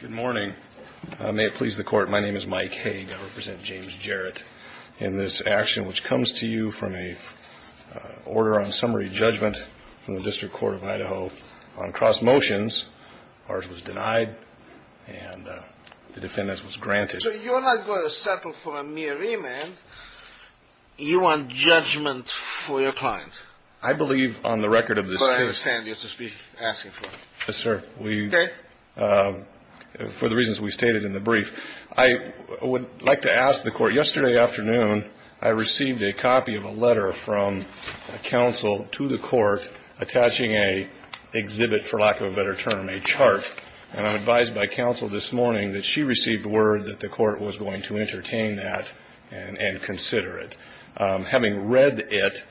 Good morning. May it please the Court, my name is Mike Haig. I represent James Jarrett in this action which comes to you from an order on summary judgment from the District Court of Idaho on cross motions. Ours was denied and the defendant's was granted. So you're not going to settle for a mere remand. You want judgment for your client. I believe on the record of this case. But I understand you're asking for it. Yes, sir. Okay. For the reasons we stated in the brief, I would like to ask the Court. Yesterday afternoon I received a copy of a letter from counsel to the Court attaching a exhibit, for lack of a better term, a chart. And I'm advised by counsel this morning that she received word that the Court was going to entertain that and consider it. Having read it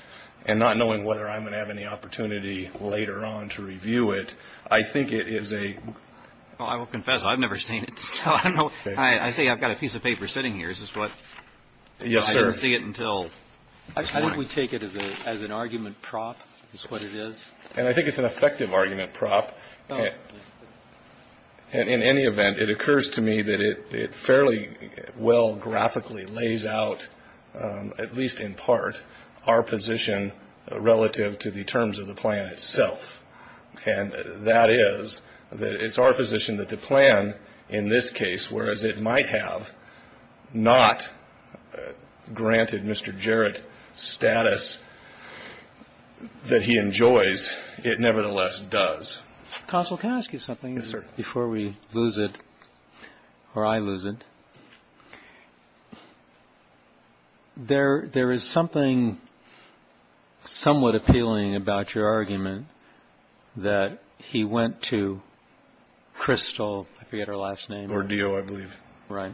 and not knowing whether I'm going to have any opportunity later on to review it, I think it is a Well, I will confess I've never seen it. I say I've got a piece of paper sitting here. Is this what Yes, sir. I didn't see it until I think we take it as an argument prop is what it is. And I think it's an effective argument prop. In any event, it occurs to me that it fairly well graphically lays out, at least in part, our position relative to the terms of the plan itself. And that is that it's our position that the plan in this case, whereas it might have not granted Mr. Jarrett status that he enjoys, it nevertheless does. Counsel, can I ask you something? Yes, sir. Before we lose it or I lose it. There there is something somewhat appealing about your argument that he went to crystal. We had our last name or deal, I believe. Right.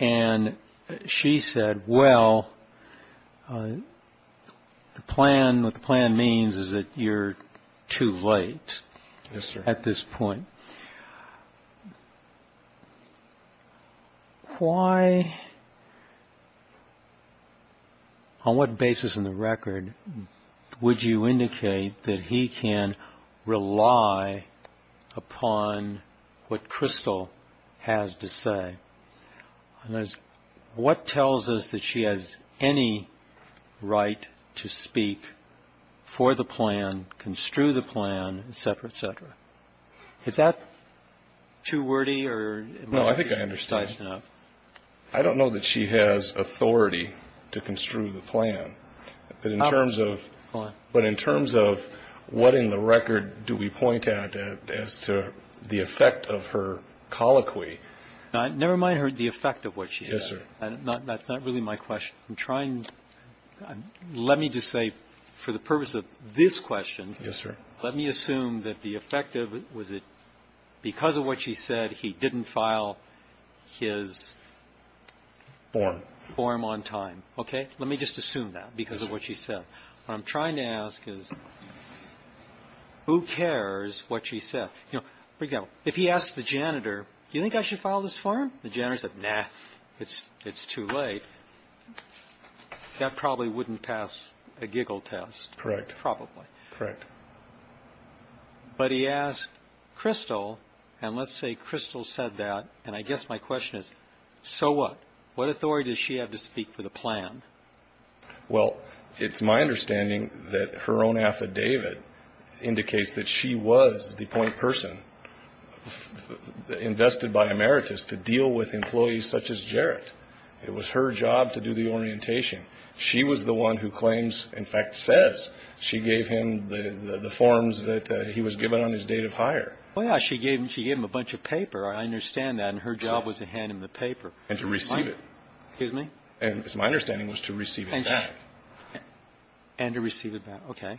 And she said, well, the plan, the plan means is that you're too late. Yes, sir. At this point. Why. On what basis in the record would you indicate that he can rely upon what crystal has to say. And what tells us that she has any right to speak for the plan, construe the plan, et cetera, et cetera. Is that too wordy or. No, I think I understand. I don't know that she has authority to construe the plan. But in terms of. But in terms of what in the record do we point out as to the effect of her colloquy. Never mind the effect of what she said. Yes, sir. That's not really my question. I'm trying. Let me just say for the purpose of this question. Yes, sir. Let me assume that the effective was it because of what she said he didn't file his. Form. Form on time. Okay. Let me just assume that because of what she said. What I'm trying to ask is who cares what she said. You know, for example, if he asked the janitor, do you think I should file this form? The janitor said, nah, it's it's too late. That probably wouldn't pass a giggle test. Correct. Probably correct. But he asked crystal. And let's say crystal said that. And I guess my question is, so what? What authority does she have to speak for the plan? Well, it's my understanding that her own affidavit indicates that she was the point person invested by emeritus to deal with employees such as Jarrett. It was her job to do the orientation. She was the one who claims, in fact, says she gave him the forms that he was given on his date of hire. Well, she gave him she gave him a bunch of paper. I understand that. And her job was to hand him the paper and to receive it. Excuse me. And it's my understanding was to receive it. And to receive it. OK.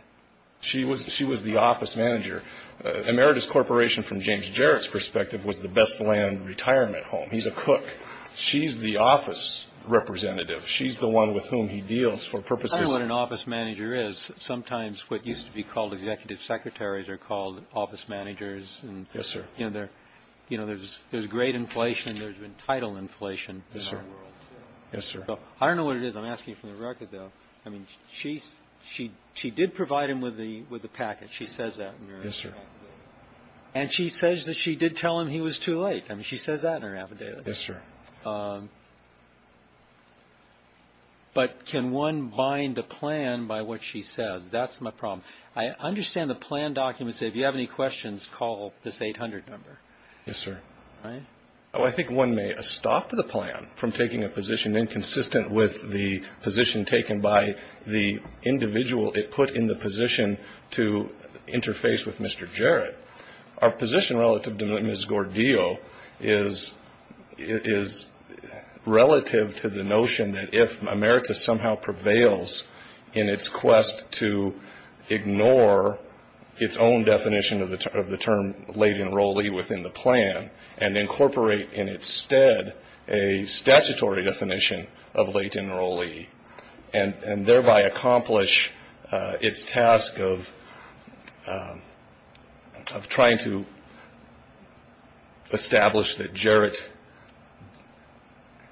She was she was the office manager. Emeritus Corporation, from James Jarrett's perspective, was the best land retirement home. He's a cook. She's the office representative. She's the one with whom he deals for purposes of what an office manager is. Sometimes what used to be called executive secretaries are called office managers. Yes, sir. You know, there's there's great inflation. There's been title inflation. Yes, sir. Yes, sir. I don't know what it is. I'm asking for the record, though. I mean, she's she she did provide him with the with the package. She says that. Yes, sir. And she says that she did tell him he was too late. I mean, she says that in her affidavit. Yes, sir. But can one bind a plan by what she says? That's my problem. I understand the plan documents. If you have any questions, call this 800 number. Yes, sir. I think one may stop the plan from taking a position inconsistent with the position taken by the individual it put in the position to interface with Mr. Jarrett. Our position relative to Ms. Gordillo is is relative to the notion that if America somehow prevails in its quest to ignore its own definition of the type of the term late enrollee within the plan and incorporate in its stead a statutory definition of late enrollee and thereby accomplish its task of. I'm trying to establish that Jarrett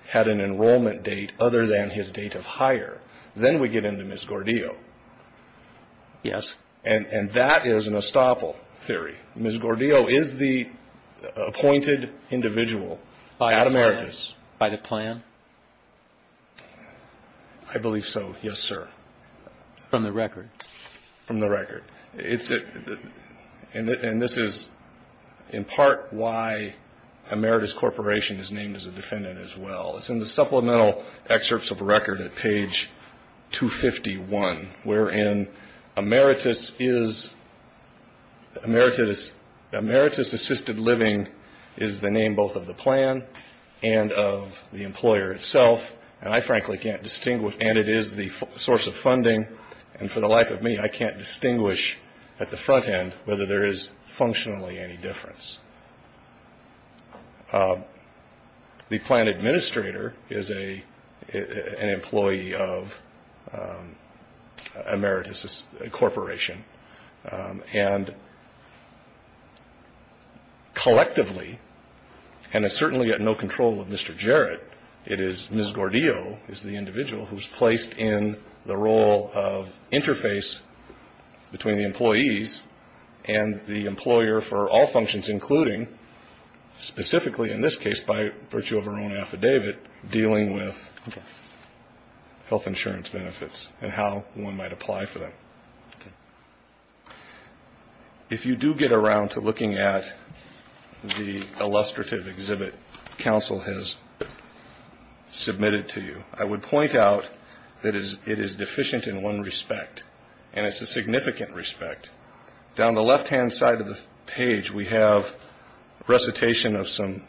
had an enrollment date other than his date of hire. Then we get into Ms. Gordillo. Yes. And that is an estoppel theory. Ms. Gordillo is the appointed individual by America's by the plan. I believe so. Yes, sir. From the record. From the record. And this is in part why Emeritus Corporation is named as a defendant as well. It's in the supplemental excerpts of record at page 251, wherein Emeritus is Emeritus. Emeritus assisted living is the name both of the plan and of the employer itself. And I frankly can't distinguish. And it is the source of funding. And for the life of me, I can't distinguish at the front end whether there is functionally any difference. The plan administrator is an employee of Emeritus Corporation. And collectively, and it's certainly at no control of Mr. Jarrett, it is Ms. Gordillo, who is placed in the role of interface between the employees and the employer for all functions, including specifically in this case by virtue of her own affidavit, dealing with health insurance benefits and how one might apply for them. If you do get around to looking at the illustrative exhibit counsel has submitted to you, I would point out that it is deficient in one respect, and it's a significant respect. Down the left-hand side of the page, we have recitation of some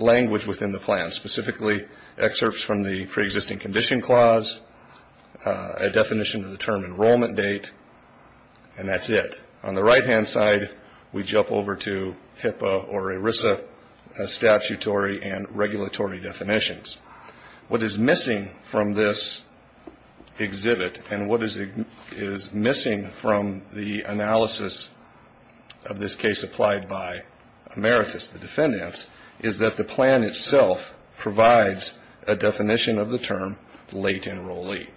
language within the plan, specifically excerpts from the preexisting condition clause, a definition of the term enrollment date, and that's it. On the right-hand side, we jump over to HIPAA or ERISA statutory and regulatory definitions. What is missing from this exhibit and what is missing from the analysis of this case applied by Emeritus, the defendants, is that the plan itself provides a definition of the term late enrollee.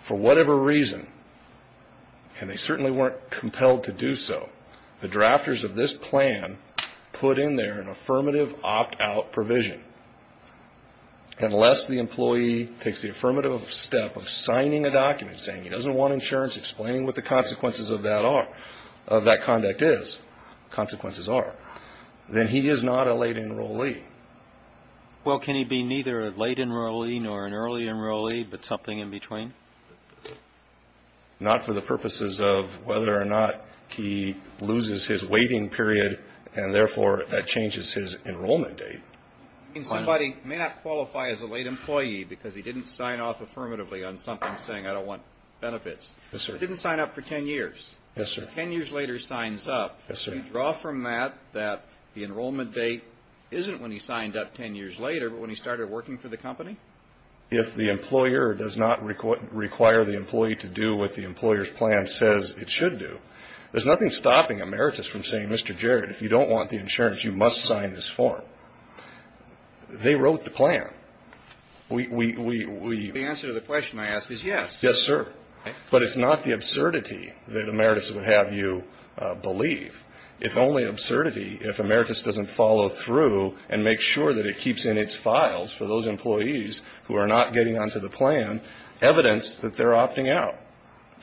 For whatever reason, and they certainly weren't compelled to do so, the drafters of this plan put in there an affirmative opt-out provision. Unless the employee takes the affirmative step of signing a document saying he doesn't want insurance, explaining what the consequences of that conduct is, consequences are, then he is not a late enrollee. Well, can he be neither a late enrollee nor an early enrollee, but something in between? Not for the purposes of whether or not he loses his waiting period, and therefore that changes his enrollment date. Somebody may not qualify as a late employee because he didn't sign off affirmatively on something saying I don't want benefits. He didn't sign up for 10 years. Yes, sir. 10 years later he signs up. Yes, sir. Do you draw from that that the enrollment date isn't when he signed up 10 years later, but when he started working for the company? If the employer does not require the employee to do what the employer's plan says it should do, there's nothing stopping Emeritus from saying, Mr. Jarrett, if you don't want the insurance, you must sign this form. They wrote the plan. The answer to the question I ask is yes. Yes, sir. But it's not the absurdity that Emeritus would have you believe. It's only absurdity if Emeritus doesn't follow through and make sure that it keeps in its files for those employees who are not getting onto the plan evidence that they're opting out.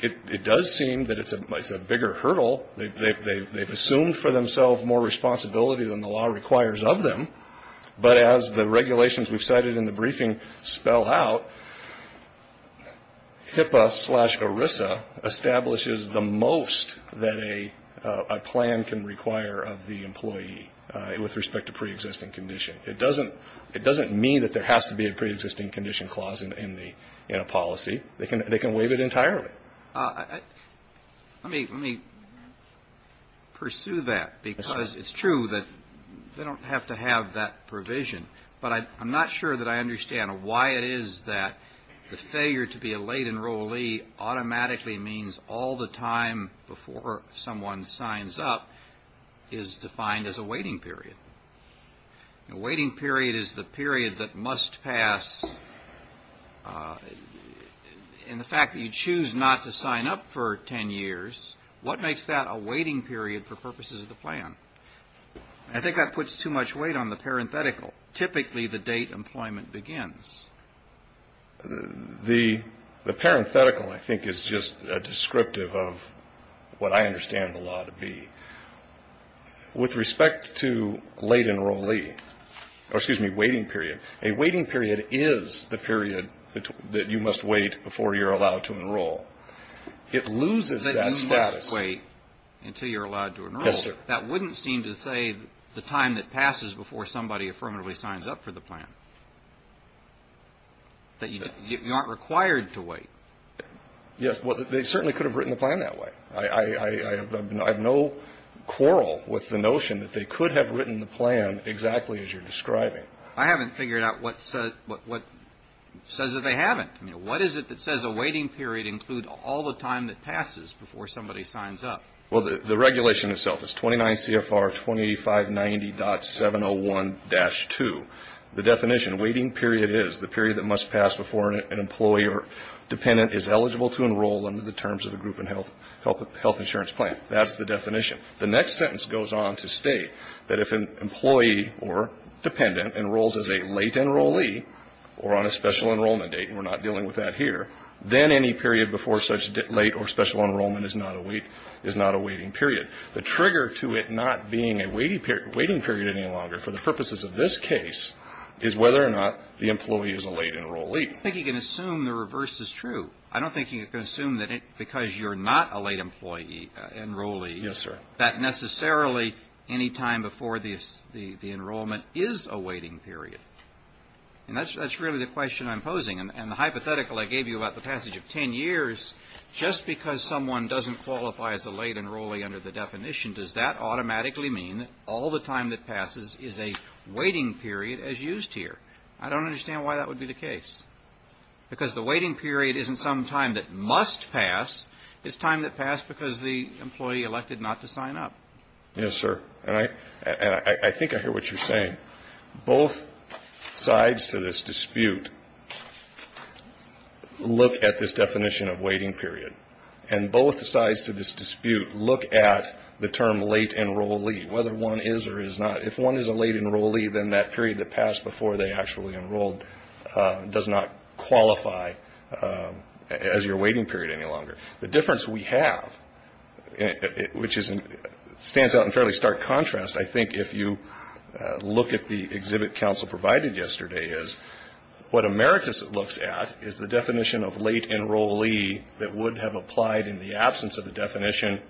It does seem that it's a bigger hurdle. They've assumed for themselves more responsibility than the law requires of them. But as the regulations we've cited in the briefing spell out, HIPAA slash ERISA establishes the most that a plan can require of the employee with respect to preexisting condition. It doesn't mean that there has to be a preexisting condition clause in a policy. They can waive it entirely. Let me pursue that because it's true that they don't have to have that provision. But I'm not sure that I understand why it is that the failure to be a late enrollee automatically means all the time before someone signs up is defined as a waiting period. A waiting period is the period that must pass. And the fact that you choose not to sign up for 10 years, what makes that a waiting period for purposes of the plan? I think that puts too much weight on the parenthetical. Typically, the date employment begins. The parenthetical, I think, is just a descriptive of what I understand the law to be. With respect to late enrollee or, excuse me, waiting period, a waiting period is the period that you must wait before you're allowed to enroll. It loses that status. But you must wait until you're allowed to enroll. Yes, sir. That wouldn't seem to say the time that passes before somebody affirmatively signs up for the plan, that you aren't required to wait. Yes. Well, they certainly could have written the plan that way. I have no quarrel with the notion that they could have written the plan exactly as you're describing. I haven't figured out what says that they haven't. What is it that says a waiting period includes all the time that passes before somebody signs up? Well, the regulation itself is 29 CFR 2590.701-2. The definition, waiting period is the period that must pass before an employee or dependent is eligible to enroll under the terms of a group and health insurance plan. That's the definition. The next sentence goes on to state that if an employee or dependent enrolls as a late enrollee or on a special enrollment date, and we're not dealing with that here, then any period before such late or special enrollment is not a waiting period. The trigger to it not being a waiting period any longer for the purposes of this case is whether or not the employee is a late enrollee. I don't think you can assume the reverse is true. I don't think you can assume that because you're not a late employee, enrollee. Yes, sir. That necessarily any time before the enrollment is a waiting period. And that's really the question I'm posing. And the hypothetical I gave you about the passage of 10 years, just because someone doesn't qualify as a late enrollee under the definition, does that automatically mean that all the time that passes is a waiting period as used here? I don't understand why that would be the case. Because the waiting period isn't some time that must pass. It's time that passed because the employee elected not to sign up. Yes, sir. And I think I hear what you're saying. Both sides to this dispute look at this definition of waiting period. And both sides to this dispute look at the term late enrollee, whether one is or is not. If one is a late enrollee, then that period that passed before they actually enrolled does not qualify as your waiting period any longer. The difference we have, which stands out in fairly stark contrast, I think, if you look at the exhibit council provided yesterday, is what Emeritus looks at is the definition of late enrollee that would have applied in the absence of the definition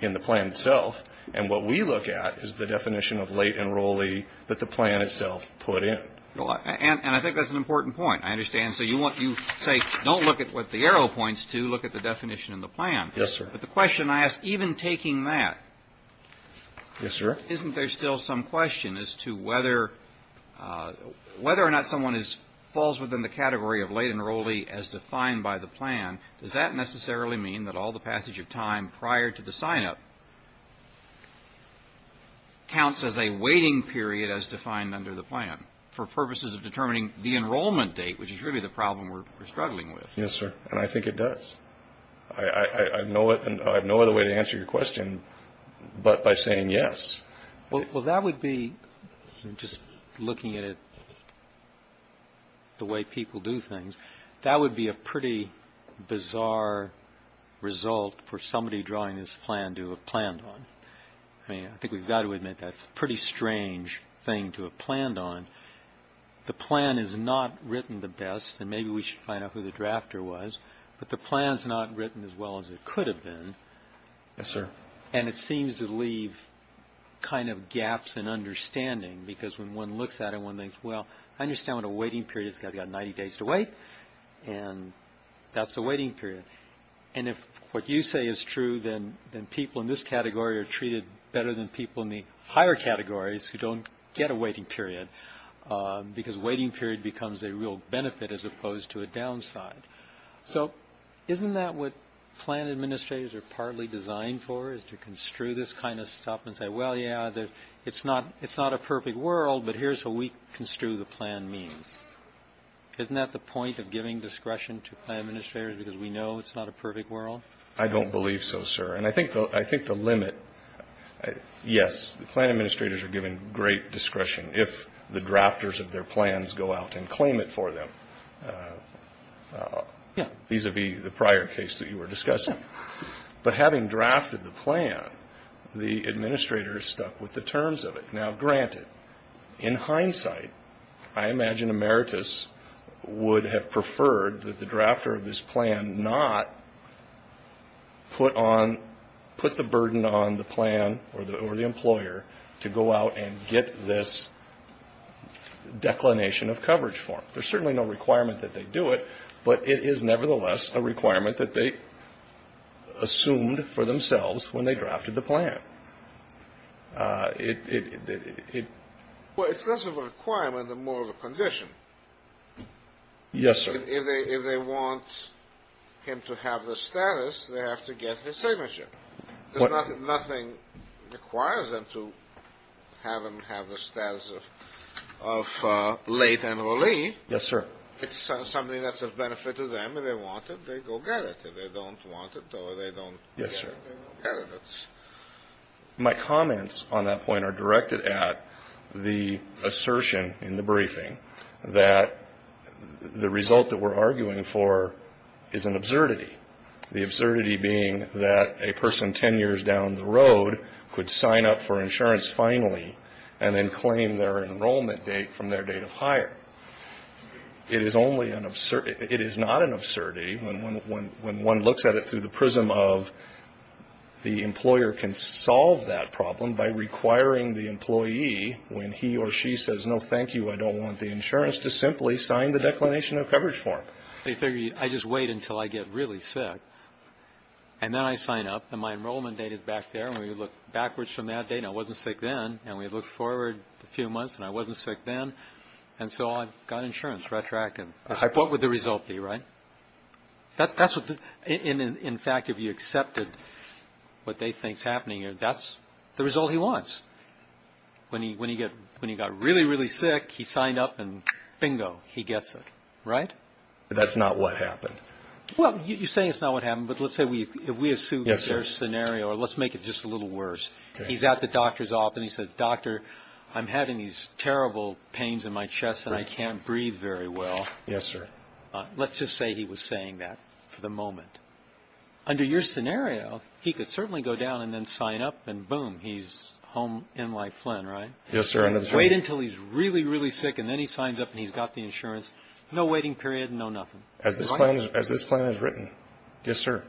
in the plan itself. And what we look at is the definition of late enrollee that the plan itself put in. And I think that's an important point. I understand. And so you say don't look at what the arrow points to. Look at the definition in the plan. Yes, sir. But the question I ask, even taking that. Yes, sir. Isn't there still some question as to whether or not someone falls within the category of late enrollee as defined by the plan? Does that necessarily mean that all the passage of time prior to the sign-up counts as a waiting period as defined under the plan? For purposes of determining the enrollment date, which is really the problem we're struggling with. Yes, sir. And I think it does. I have no other way to answer your question but by saying yes. Well, that would be, just looking at it the way people do things, that would be a pretty bizarre result for somebody drawing this plan to have planned on. I mean, I think we've got to admit that's a pretty strange thing to have planned on. The plan is not written the best, and maybe we should find out who the drafter was. But the plan's not written as well as it could have been. Yes, sir. And it seems to leave kind of gaps in understanding because when one looks at it, one thinks, well, I understand what a waiting period is. This guy's got 90 days to wait, and that's a waiting period. And if what you say is true, then people in this category are treated better than people in the higher categories who don't get a waiting period because waiting period becomes a real benefit as opposed to a downside. So isn't that what plan administrators are partly designed for is to construe this kind of stuff and say, well, yeah, it's not a perfect world, but here's what we construe the plan means. Isn't that the point of giving discretion to plan administrators because we know it's not a perfect world? I don't believe so, sir. And I think the limit – yes, plan administrators are given great discretion if the drafters of their plans go out and claim it for them. Yeah. Vis-a-vis the prior case that you were discussing. But having drafted the plan, the administrators stuck with the terms of it. Now, granted, in hindsight, I imagine emeritus would have preferred that the drafter of this plan not put the burden on the plan or the employer to go out and get this declination of coverage form. There's certainly no requirement that they do it, but it is nevertheless a requirement that they assumed for themselves when they drafted the plan. Well, it's less of a requirement and more of a condition. Yes, sir. If they want him to have the status, they have to get his signature. Nothing requires them to have him have the status of late enrollee. Yes, sir. It's something that's of benefit to them. If they want it, they go get it. If they don't want it or they don't get it, they don't get it. My comments on that point are directed at the assertion in the briefing that the result that we're arguing for is an absurdity, the absurdity being that a person 10 years down the road could sign up for insurance finally and then claim their enrollment date from their date of hire. It is not an absurdity when one looks at it through the prism of the employer can solve that problem by requiring the employee, when he or she says, no, thank you, I don't want the insurance, to simply sign the declination of coverage form. I just wait until I get really sick, and then I sign up, and my enrollment date is back there, and we look backwards from that date, and I wasn't sick then. And we look forward a few months, and I wasn't sick then. And so I got insurance, retracted. What would the result be, right? In fact, if you accepted what they think is happening here, that's the result he wants. When he got really, really sick, he signed up, and bingo, he gets it. Right? That's not what happened. Well, you're saying it's not what happened, but let's say we assume a certain scenario, or let's make it just a little worse. He's at the doctor's office, and he says, Doctor, I'm having these terrible pains in my chest, and I can't breathe very well. Yes, sir. Let's just say he was saying that for the moment. Under your scenario, he could certainly go down and then sign up, and boom, he's home in life, Flynn, right? Yes, sir. Wait until he's really, really sick, and then he signs up, and he's got the insurance. No waiting period, no nothing. As this plan is written. Yes, sir.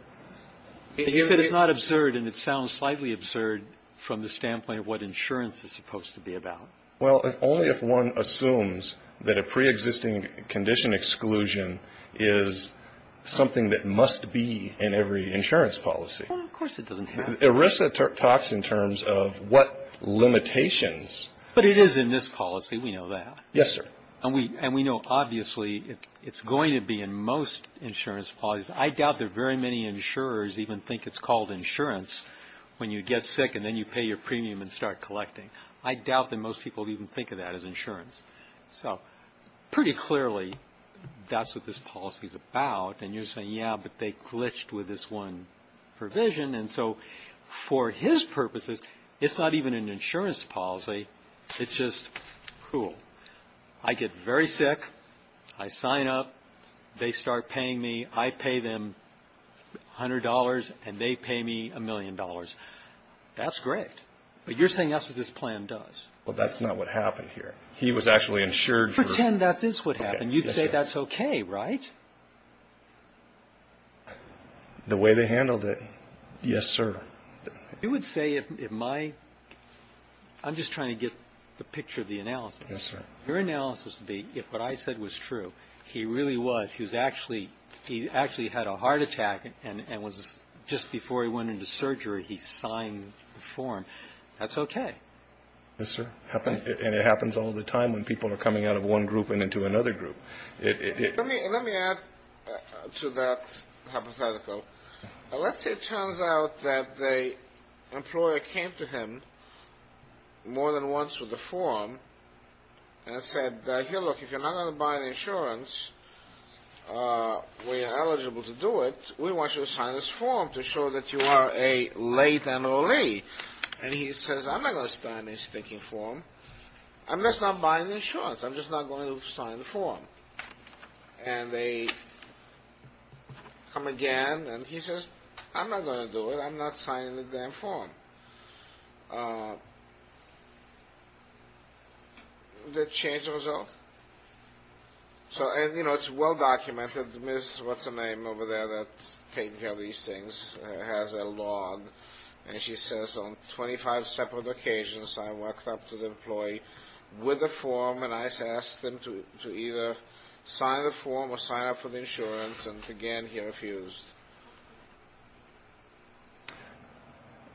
You said it's not absurd, and it sounds slightly absurd from the standpoint of what insurance is supposed to be about. Well, only if one assumes that a preexisting condition exclusion is something that must be in every insurance policy. Well, of course it doesn't have to be. ERISA talks in terms of what limitations. But it is in this policy. We know that. Yes, sir. And we know, obviously, it's going to be in most insurance policies. I doubt that very many insurers even think it's called insurance when you get sick and then you pay your premium and start collecting. I doubt that most people even think of that as insurance. So pretty clearly, that's what this policy is about. And you're saying, yeah, but they glitched with this one provision. And so for his purposes, it's not even an insurance policy. It's just cool. I get very sick. I sign up. They start paying me. I pay them $100, and they pay me a million dollars. That's great. But you're saying that's what this plan does. Well, that's not what happened here. He was actually insured. Pretend that is what happened. You'd say that's okay, right? The way they handled it, yes, sir. You would say if my – I'm just trying to get the picture of the analysis. Yes, sir. Your analysis would be if what I said was true, he really was, he actually had a heart attack and just before he went into surgery, he signed the form. That's okay. Yes, sir. And it happens all the time when people are coming out of one group and into another group. Let me add to that hypothetical. Let's say it turns out that the employer came to him more than once with a form and said, here, look, if you're not going to buy the insurance when you're eligible to do it, we want you to sign this form to show that you are a late and early. And he says, I'm not going to sign this stinking form. I'm just not buying the insurance. I'm just not going to sign the form. And they come again, and he says, I'm not going to do it. I'm not signing the damn form. They change the result. So, you know, it's well documented. Ms. – what's her name over there that's taking care of these things, has a log, and she says, on 25 separate occasions, I walked up to the employee with a form, and I asked them to either sign the form or sign up for the insurance. And, again, he refused.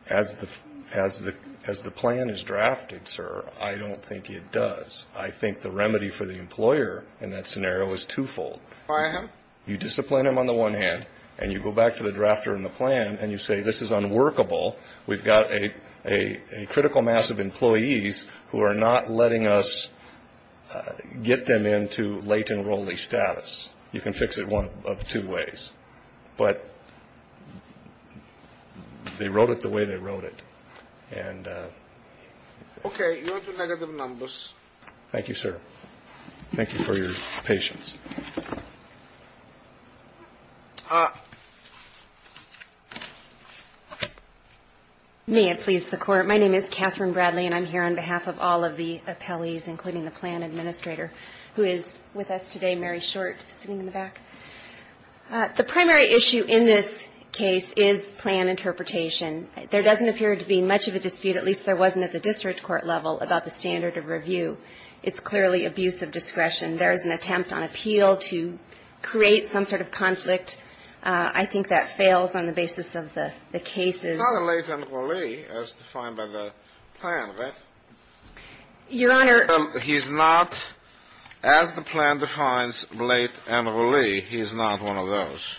As the plan is drafted, sir, I don't think it does. I think the remedy for the employer in that scenario is twofold. Fire him? You discipline him on the one hand, and you go back to the drafter in the plan, and you say, this is unworkable. We've got a critical mass of employees who are not letting us get them into late enrollee status. You can fix it one of two ways. But they wrote it the way they wrote it. Okay. You are to negative numbers. Thank you, sir. Thank you for your patience. May it please the Court. My name is Catherine Bradley, and I'm here on behalf of all of the appellees, including the plan administrator, who is with us today, Mary Short, sitting in the back. The primary issue in this case is plan interpretation. There doesn't appear to be much of a dispute, at least there wasn't at the district court level, about the standard of review. It's clearly abuse of discretion. There is an attempt on appeal to create some sort of conflict. I think that fails on the basis of the cases. He's not a late enrollee as defined by the plan, right? Your Honor. He's not, as the plan defines, late enrollee. He is not one of those.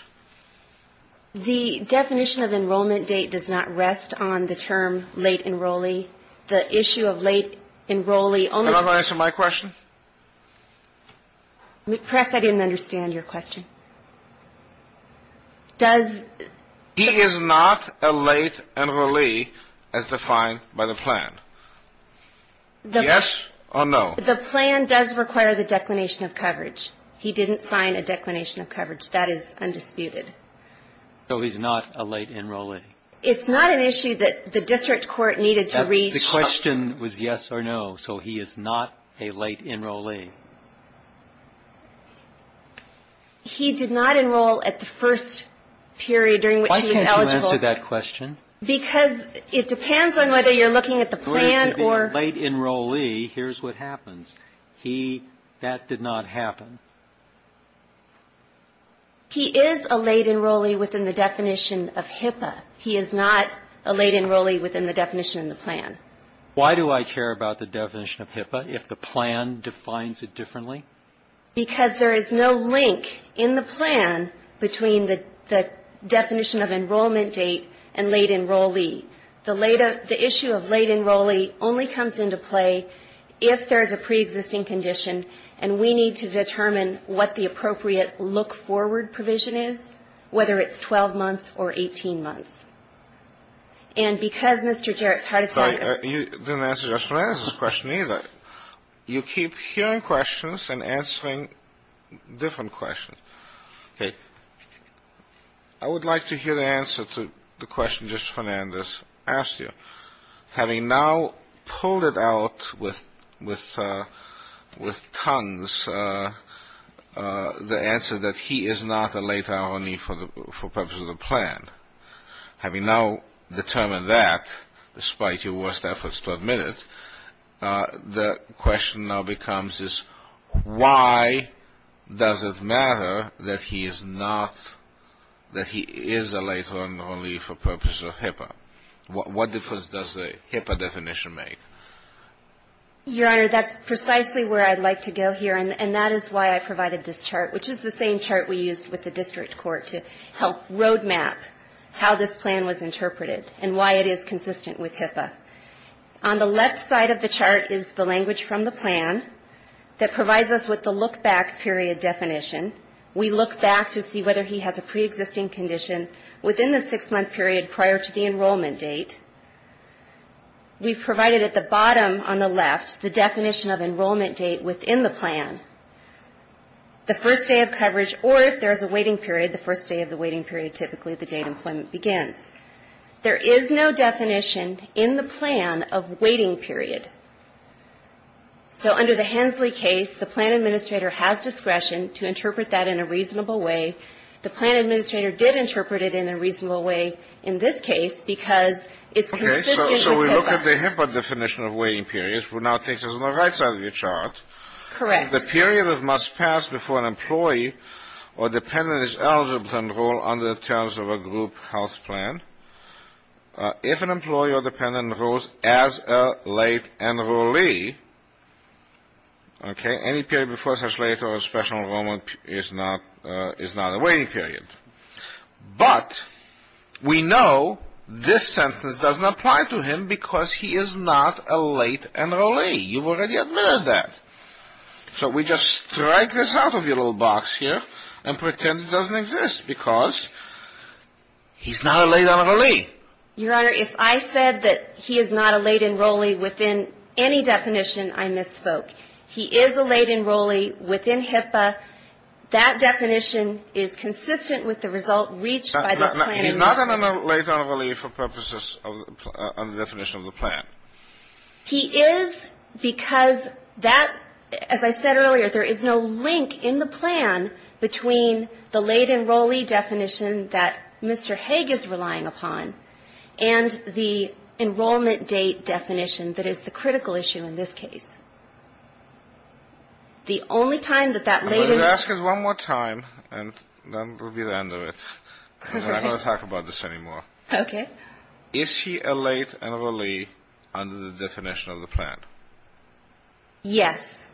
The definition of enrollment date does not rest on the term late enrollee. The issue of late enrollee only – Can I answer my question? Press, I didn't understand your question. Does – He is not a late enrollee as defined by the plan. Yes or no? The plan does require the declination of coverage. He didn't sign a declination of coverage. That is undisputed. So he's not a late enrollee. It's not an issue that the district court needed to reach. The question was yes or no, so he is not a late enrollee. He did not enroll at the first period during which he was eligible. Why can't you answer that question? Because it depends on whether you're looking at the plan or – If he's a late enrollee, here's what happens. He – that did not happen. He is a late enrollee within the definition of HIPAA. He is not a late enrollee within the definition of the plan. Why do I care about the definition of HIPAA if the plan defines it differently? Because there is no link in the plan between the definition of enrollment date and late enrollee. The issue of late enrollee only comes into play if there is a preexisting condition and we need to determine what the appropriate look-forward provision is, whether it's 12 months or 18 months. And because Mr. Jarrett's heart attack – Sorry, you didn't answer Justice Fernandez's question either. You keep hearing questions and answering different questions. Okay. I would like to hear the answer to the question Justice Fernandez asked you. Having now pulled it out with tongues, the answer that he is not a late enrollee for purpose of the plan, having now determined that, despite your worst efforts to admit it, the question now becomes is why does it matter that he is not – that he is a late enrollee for purpose of HIPAA? What difference does the HIPAA definition make? Your Honor, that's precisely where I'd like to go here, and that is why I provided this chart, which is the same chart we used with the district court to help roadmap how this plan was interpreted and why it is consistent with HIPAA. On the left side of the chart is the language from the plan that provides us with the look-back period definition. We look back to see whether he has a pre-existing condition within the six-month period prior to the enrollment date. We've provided at the bottom on the left the definition of enrollment date within the plan. The first day of coverage, or if there is a waiting period, the first day of the waiting period, typically the date employment begins. There is no definition in the plan of waiting period. So under the Hensley case, the plan administrator has discretion to interpret that in a reasonable way. The plan administrator did interpret it in a reasonable way in this case because it's consistent with HIPAA. Okay, so we look at the HIPAA definition of waiting period, which now takes us to the right side of your chart. Correct. The period that must pass before an employee or dependent is eligible to enroll under the terms of a group health plan. If an employee or dependent enrolls as a late enrollee, okay, any period before such late or special enrollment is not a waiting period. But we know this sentence doesn't apply to him because he is not a late enrollee. You've already admitted that. So we just strike this out of your little box here and pretend it doesn't exist because he's not a late enrollee. Your Honor, if I said that he is not a late enrollee within any definition, I misspoke. He is a late enrollee within HIPAA. That definition is consistent with the result reached by this plan administrator. He's not a late enrollee for purposes of the definition of the plan. He is because that, as I said earlier, there is no link in the plan between the late enrollee definition that Mr. Hague is relying upon and the enrollment date definition that is the critical issue in this case. The only time that that late enrollee... I'm going to ask it one more time and then we'll be at the end of it. I'm not going to talk about this anymore. Okay. Is he a late enrollee under the definition of the plan? Yes.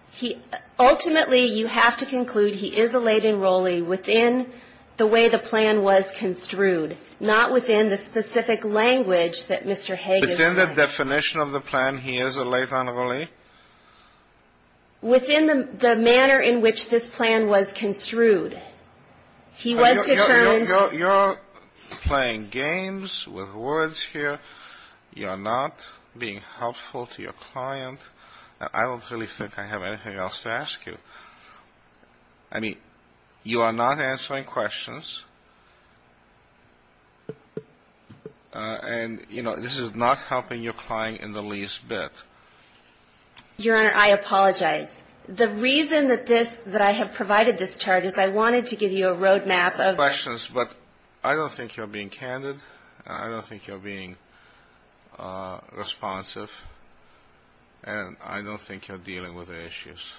Ultimately, you have to conclude he is a late enrollee within the way the plan was construed, not within the specific language that Mr. Hague is... Within the definition of the plan, he is a late enrollee? Within the manner in which this plan was construed. He was determined... You're playing games with words here. You're not being helpful to your client. I don't really think I have anything else to ask you. I mean, you are not answering questions. And, you know, this is not helping your client in the least bit. Your Honor, I apologize. The reason that I have provided this chart is I wanted to give you a road map of... Questions, but I don't think you're being candid. I don't think you're being responsive. And I don't think you're dealing with the issues.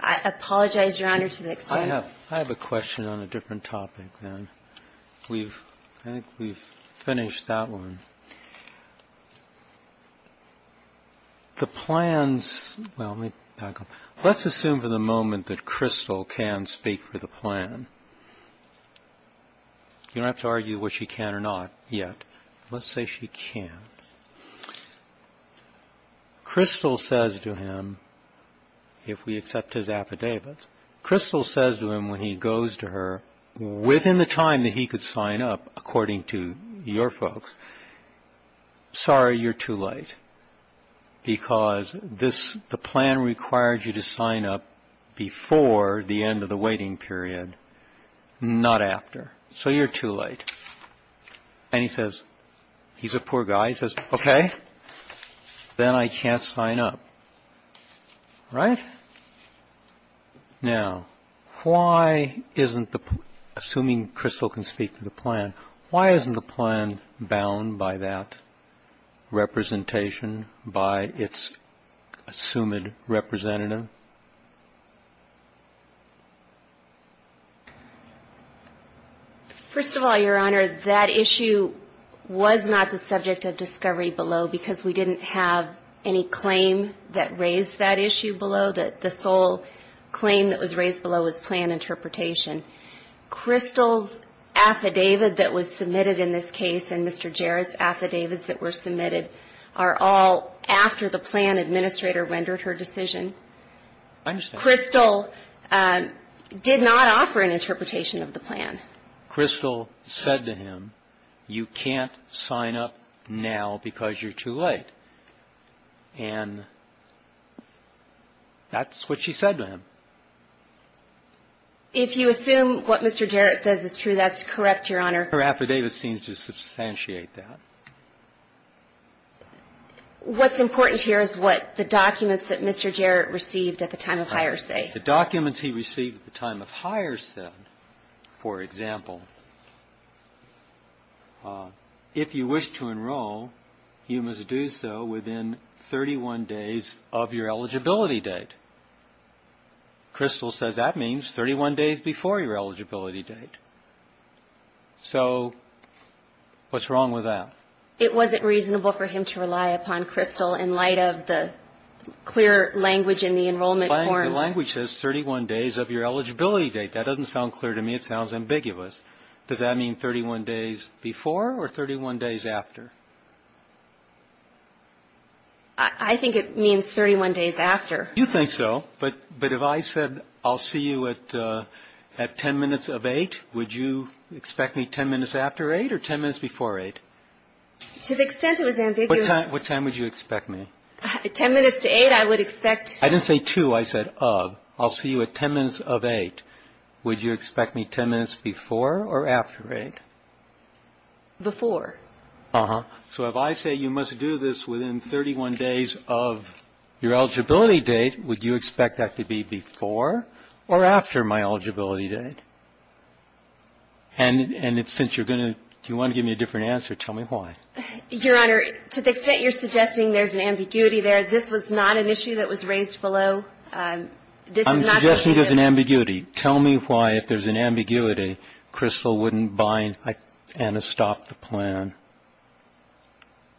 I apologize, Your Honor, to the extent... I have a question on a different topic, then. I think we've finished that one. The plans... Well, let's assume for the moment that Crystal can speak for the plan. You don't have to argue whether she can or not yet. Let's say she can. Crystal says to him, if we accept his affidavits, Crystal says to him when he goes to her, within the time that he could sign up, according to your folks, sorry, you're too late, because the plan requires you to sign up before the end of the waiting period, not after. So you're too late. And he says, he's a poor guy, he says, okay, then I can't sign up. Right? Now, why isn't the... Assuming Crystal can speak for the plan, why isn't the plan bound by that representation by its assumed representative? First of all, Your Honor, that issue was not the subject of discovery below because we didn't have any claim that raised that issue below. The sole claim that was raised below was plan interpretation. Crystal's affidavit that was submitted in this case and Mr. Jarrett's affidavits that were submitted are all after the plan administrator rendered her decision. I understand. Crystal did not offer an interpretation of the plan. And Crystal said to him, you can't sign up now because you're too late. And that's what she said to him. If you assume what Mr. Jarrett says is true, that's correct, Your Honor. Her affidavit seems to substantiate that. What's important here is what the documents that Mr. Jarrett received at the time of hire say. The documents he received at the time of hire said, for example, if you wish to enroll, you must do so within 31 days of your eligibility date. Crystal says that means 31 days before your eligibility date. So what's wrong with that? It wasn't reasonable for him to rely upon Crystal in light of the clear language in the enrollment forms. The language says 31 days of your eligibility date. That doesn't sound clear to me. It sounds ambiguous. Does that mean 31 days before or 31 days after? I think it means 31 days after. You think so. But if I said I'll see you at 10 minutes of 8, would you expect me 10 minutes after 8 or 10 minutes before 8? To the extent it was ambiguous. What time would you expect me? 10 minutes to 8 I would expect. I didn't say to. I said of. I'll see you at 10 minutes of 8. Would you expect me 10 minutes before or after 8? Before. So if I say you must do this within 31 days of your eligibility date, would you expect that to be before or after my eligibility date? And since you're going to do you want to give me a different answer, tell me why. Your Honor, to the extent you're suggesting there's an ambiguity there, this was not an issue that was raised below. I'm suggesting there's an ambiguity. Tell me why if there's an ambiguity Crystal wouldn't buy and stop the plan.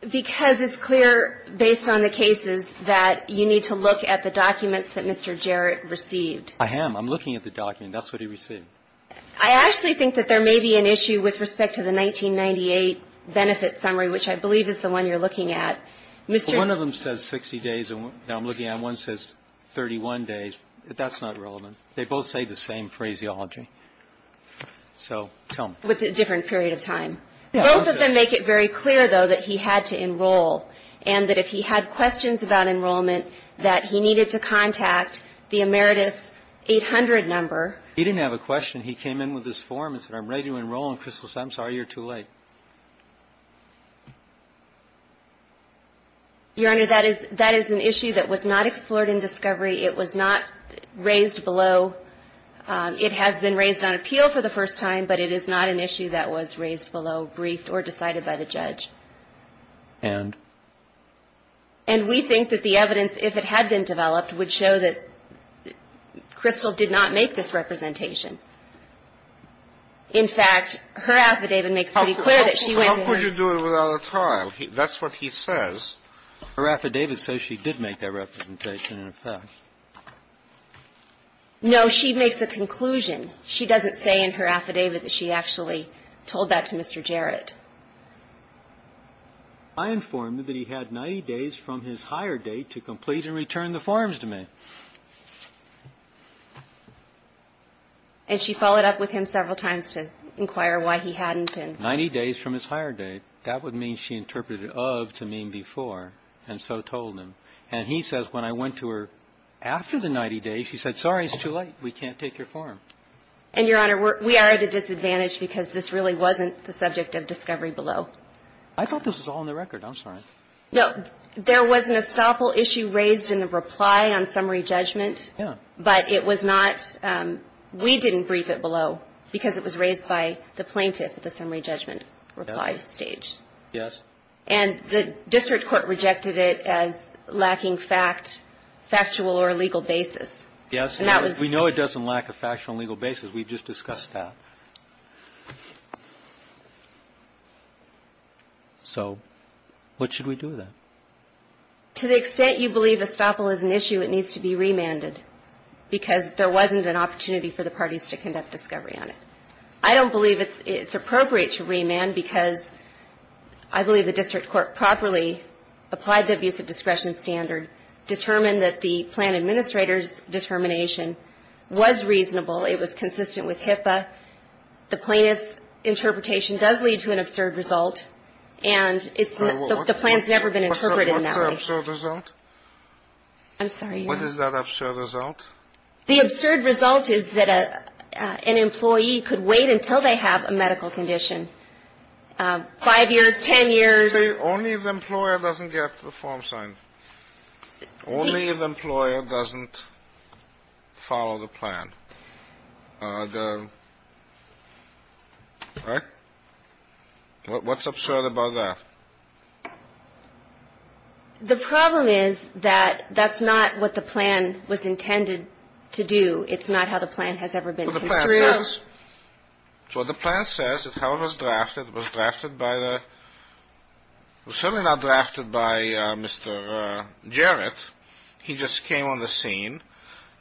Because it's clear based on the cases that you need to look at the documents that Mr. Jarrett received. I am. I'm looking at the document. That's what he received. I actually think that there may be an issue with respect to the 1998 benefit summary, which I believe is the one you're looking at. One of them says 60 days. Now I'm looking at one that says 31 days. That's not relevant. They both say the same phraseology. So tell me. With a different period of time. Both of them make it very clear, though, that he had to enroll and that if he had questions about enrollment that he needed to contact the Emeritus 800 number. He didn't have a question. And he came in with this form and said, I'm ready to enroll in Crystal's. I'm sorry you're too late. Your Honor, that is an issue that was not explored in discovery. It was not raised below. It has been raised on appeal for the first time, but it is not an issue that was raised below, briefed or decided by the judge. And? And we think that the evidence, if it had been developed, would show that Crystal did not make this representation. In fact, her affidavit makes pretty clear that she went to him. How could you do it without a trial? That's what he says. Her affidavit says she did make that representation, in fact. No, she makes a conclusion. She doesn't say in her affidavit that she actually told that to Mr. Jarrett. I informed him that he had 90 days from his hire date to complete and return the forms to me. And she followed up with him several times to inquire why he hadn't. Ninety days from his hire date. That would mean she interpreted it of to mean before and so told him. And he says when I went to her after the 90 days, she said, sorry, it's too late. We can't take your form. And, Your Honor, we are at a disadvantage because this really wasn't the subject of discovery below. I thought this was all in the record. I'm sorry. No. There was an estoppel issue raised in the reply on summary judgment. But it was not. We didn't brief it below because it was raised by the plaintiff at the summary judgment reply stage. Yes. And the district court rejected it as lacking fact, factual or legal basis. Yes. We know it doesn't lack a factual and legal basis. We just discussed that. So what should we do then? To the extent you believe estoppel is an issue, it needs to be remanded because there wasn't an opportunity for the parties to conduct discovery on it. I don't believe it's appropriate to remand because I believe the district court properly applied the abuse of discretion standard, determined that the plan administrator's determination was reasonable. It was consistent with HIPAA. The plaintiff's interpretation does lead to an absurd result. And the plan's never been interpreted in that way. What's her absurd result? I'm sorry, Your Honor. What is that absurd result? The absurd result is that an employee could wait until they have a medical condition, five years, ten years. Only if the employer doesn't get the form signed. Only if the employer doesn't follow the plan. Right? What's absurd about that? The problem is that that's not what the plan was intended to do. It's not how the plan has ever been construed. It's what the plan says. It's how it was drafted. It was drafted by the – it was certainly not drafted by Mr. Jarrett. He just came on the scene.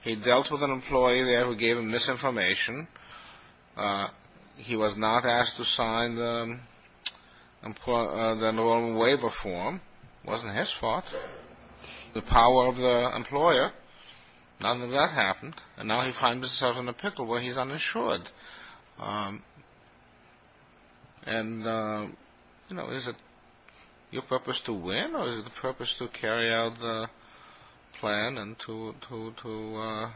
He dealt with an employee there who gave him misinformation. He was not asked to sign the normal waiver form. It wasn't his fault. The power of the employer. None of that happened. And now he finds himself in a pickle where he's uninsured. And, you know, is it your purpose to win or is it the purpose to carry out the plan and to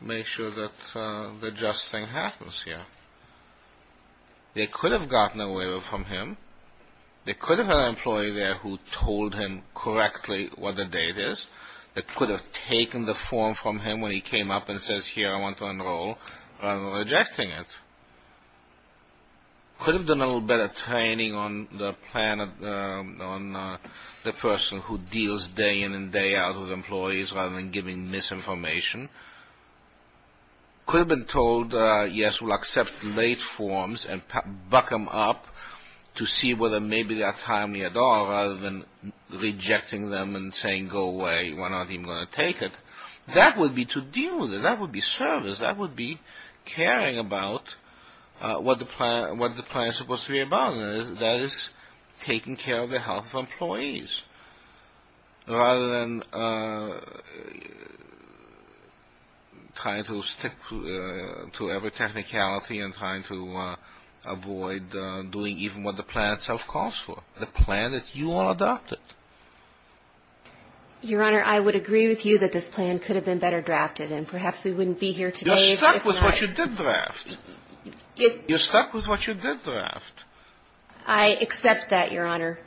make sure that the just thing happens here? They could have gotten a waiver from him. They could have had an employee there who told him correctly what the date is. They could have taken the form from him when he came up and says, here, I want to enroll, rather than rejecting it. Could have done a little better training on the plan on the person who deals day in and day out with employees rather than giving misinformation. Could have been told, yes, we'll accept late forms and buck them up to see whether maybe they're timely at all, rather than rejecting them and saying, go away, we're not even going to take it. That would be to deal with it. That would be service. That would be caring about what the plan is supposed to be about. That is taking care of the health of employees rather than trying to stick to every technicality and trying to avoid doing even what the plan itself calls for. The plan that you all adopted. Your Honor, I would agree with you that this plan could have been better drafted, and perhaps we wouldn't be here today. You're stuck with what you did draft. You're stuck with what you did draft. I accept that, Your Honor.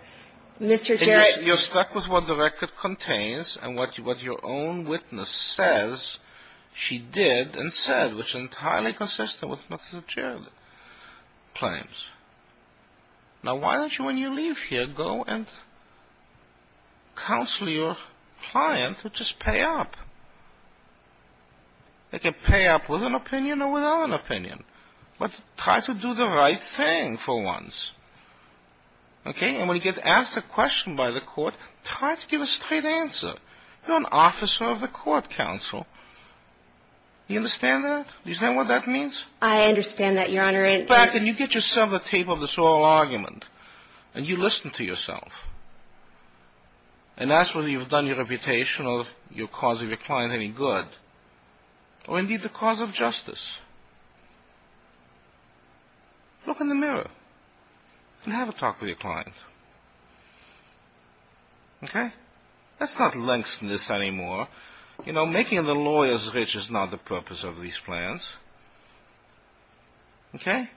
Mr. Jarrett. You're stuck with what the record contains and what your own witness says she did and said, which is entirely consistent with Mr. Jarrett's claims. Now, why don't you, when you leave here, go and counsel your client to just pay up? They can pay up with an opinion or without an opinion. But try to do the right thing for once. Okay? And when you get asked a question by the court, try to give a straight answer. You're an officer of the court, counsel. Do you understand that? Do you understand what that means? I understand that, Your Honor. Go back and you get yourself a tape of this whole argument, and you listen to yourself. And ask whether you've done your reputation or the cause of your client any good, or indeed the cause of justice. Look in the mirror and have a talk with your client. Okay? Let's not lengthen this anymore. You know, making the lawyers rich is not the purpose of these plans. Okay?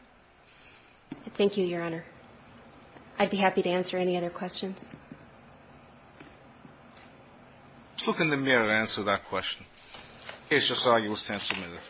Thank you, Your Honor. I'd be happy to answer any other questions. Look in the mirror and answer that question. It's just all you will stand submitted.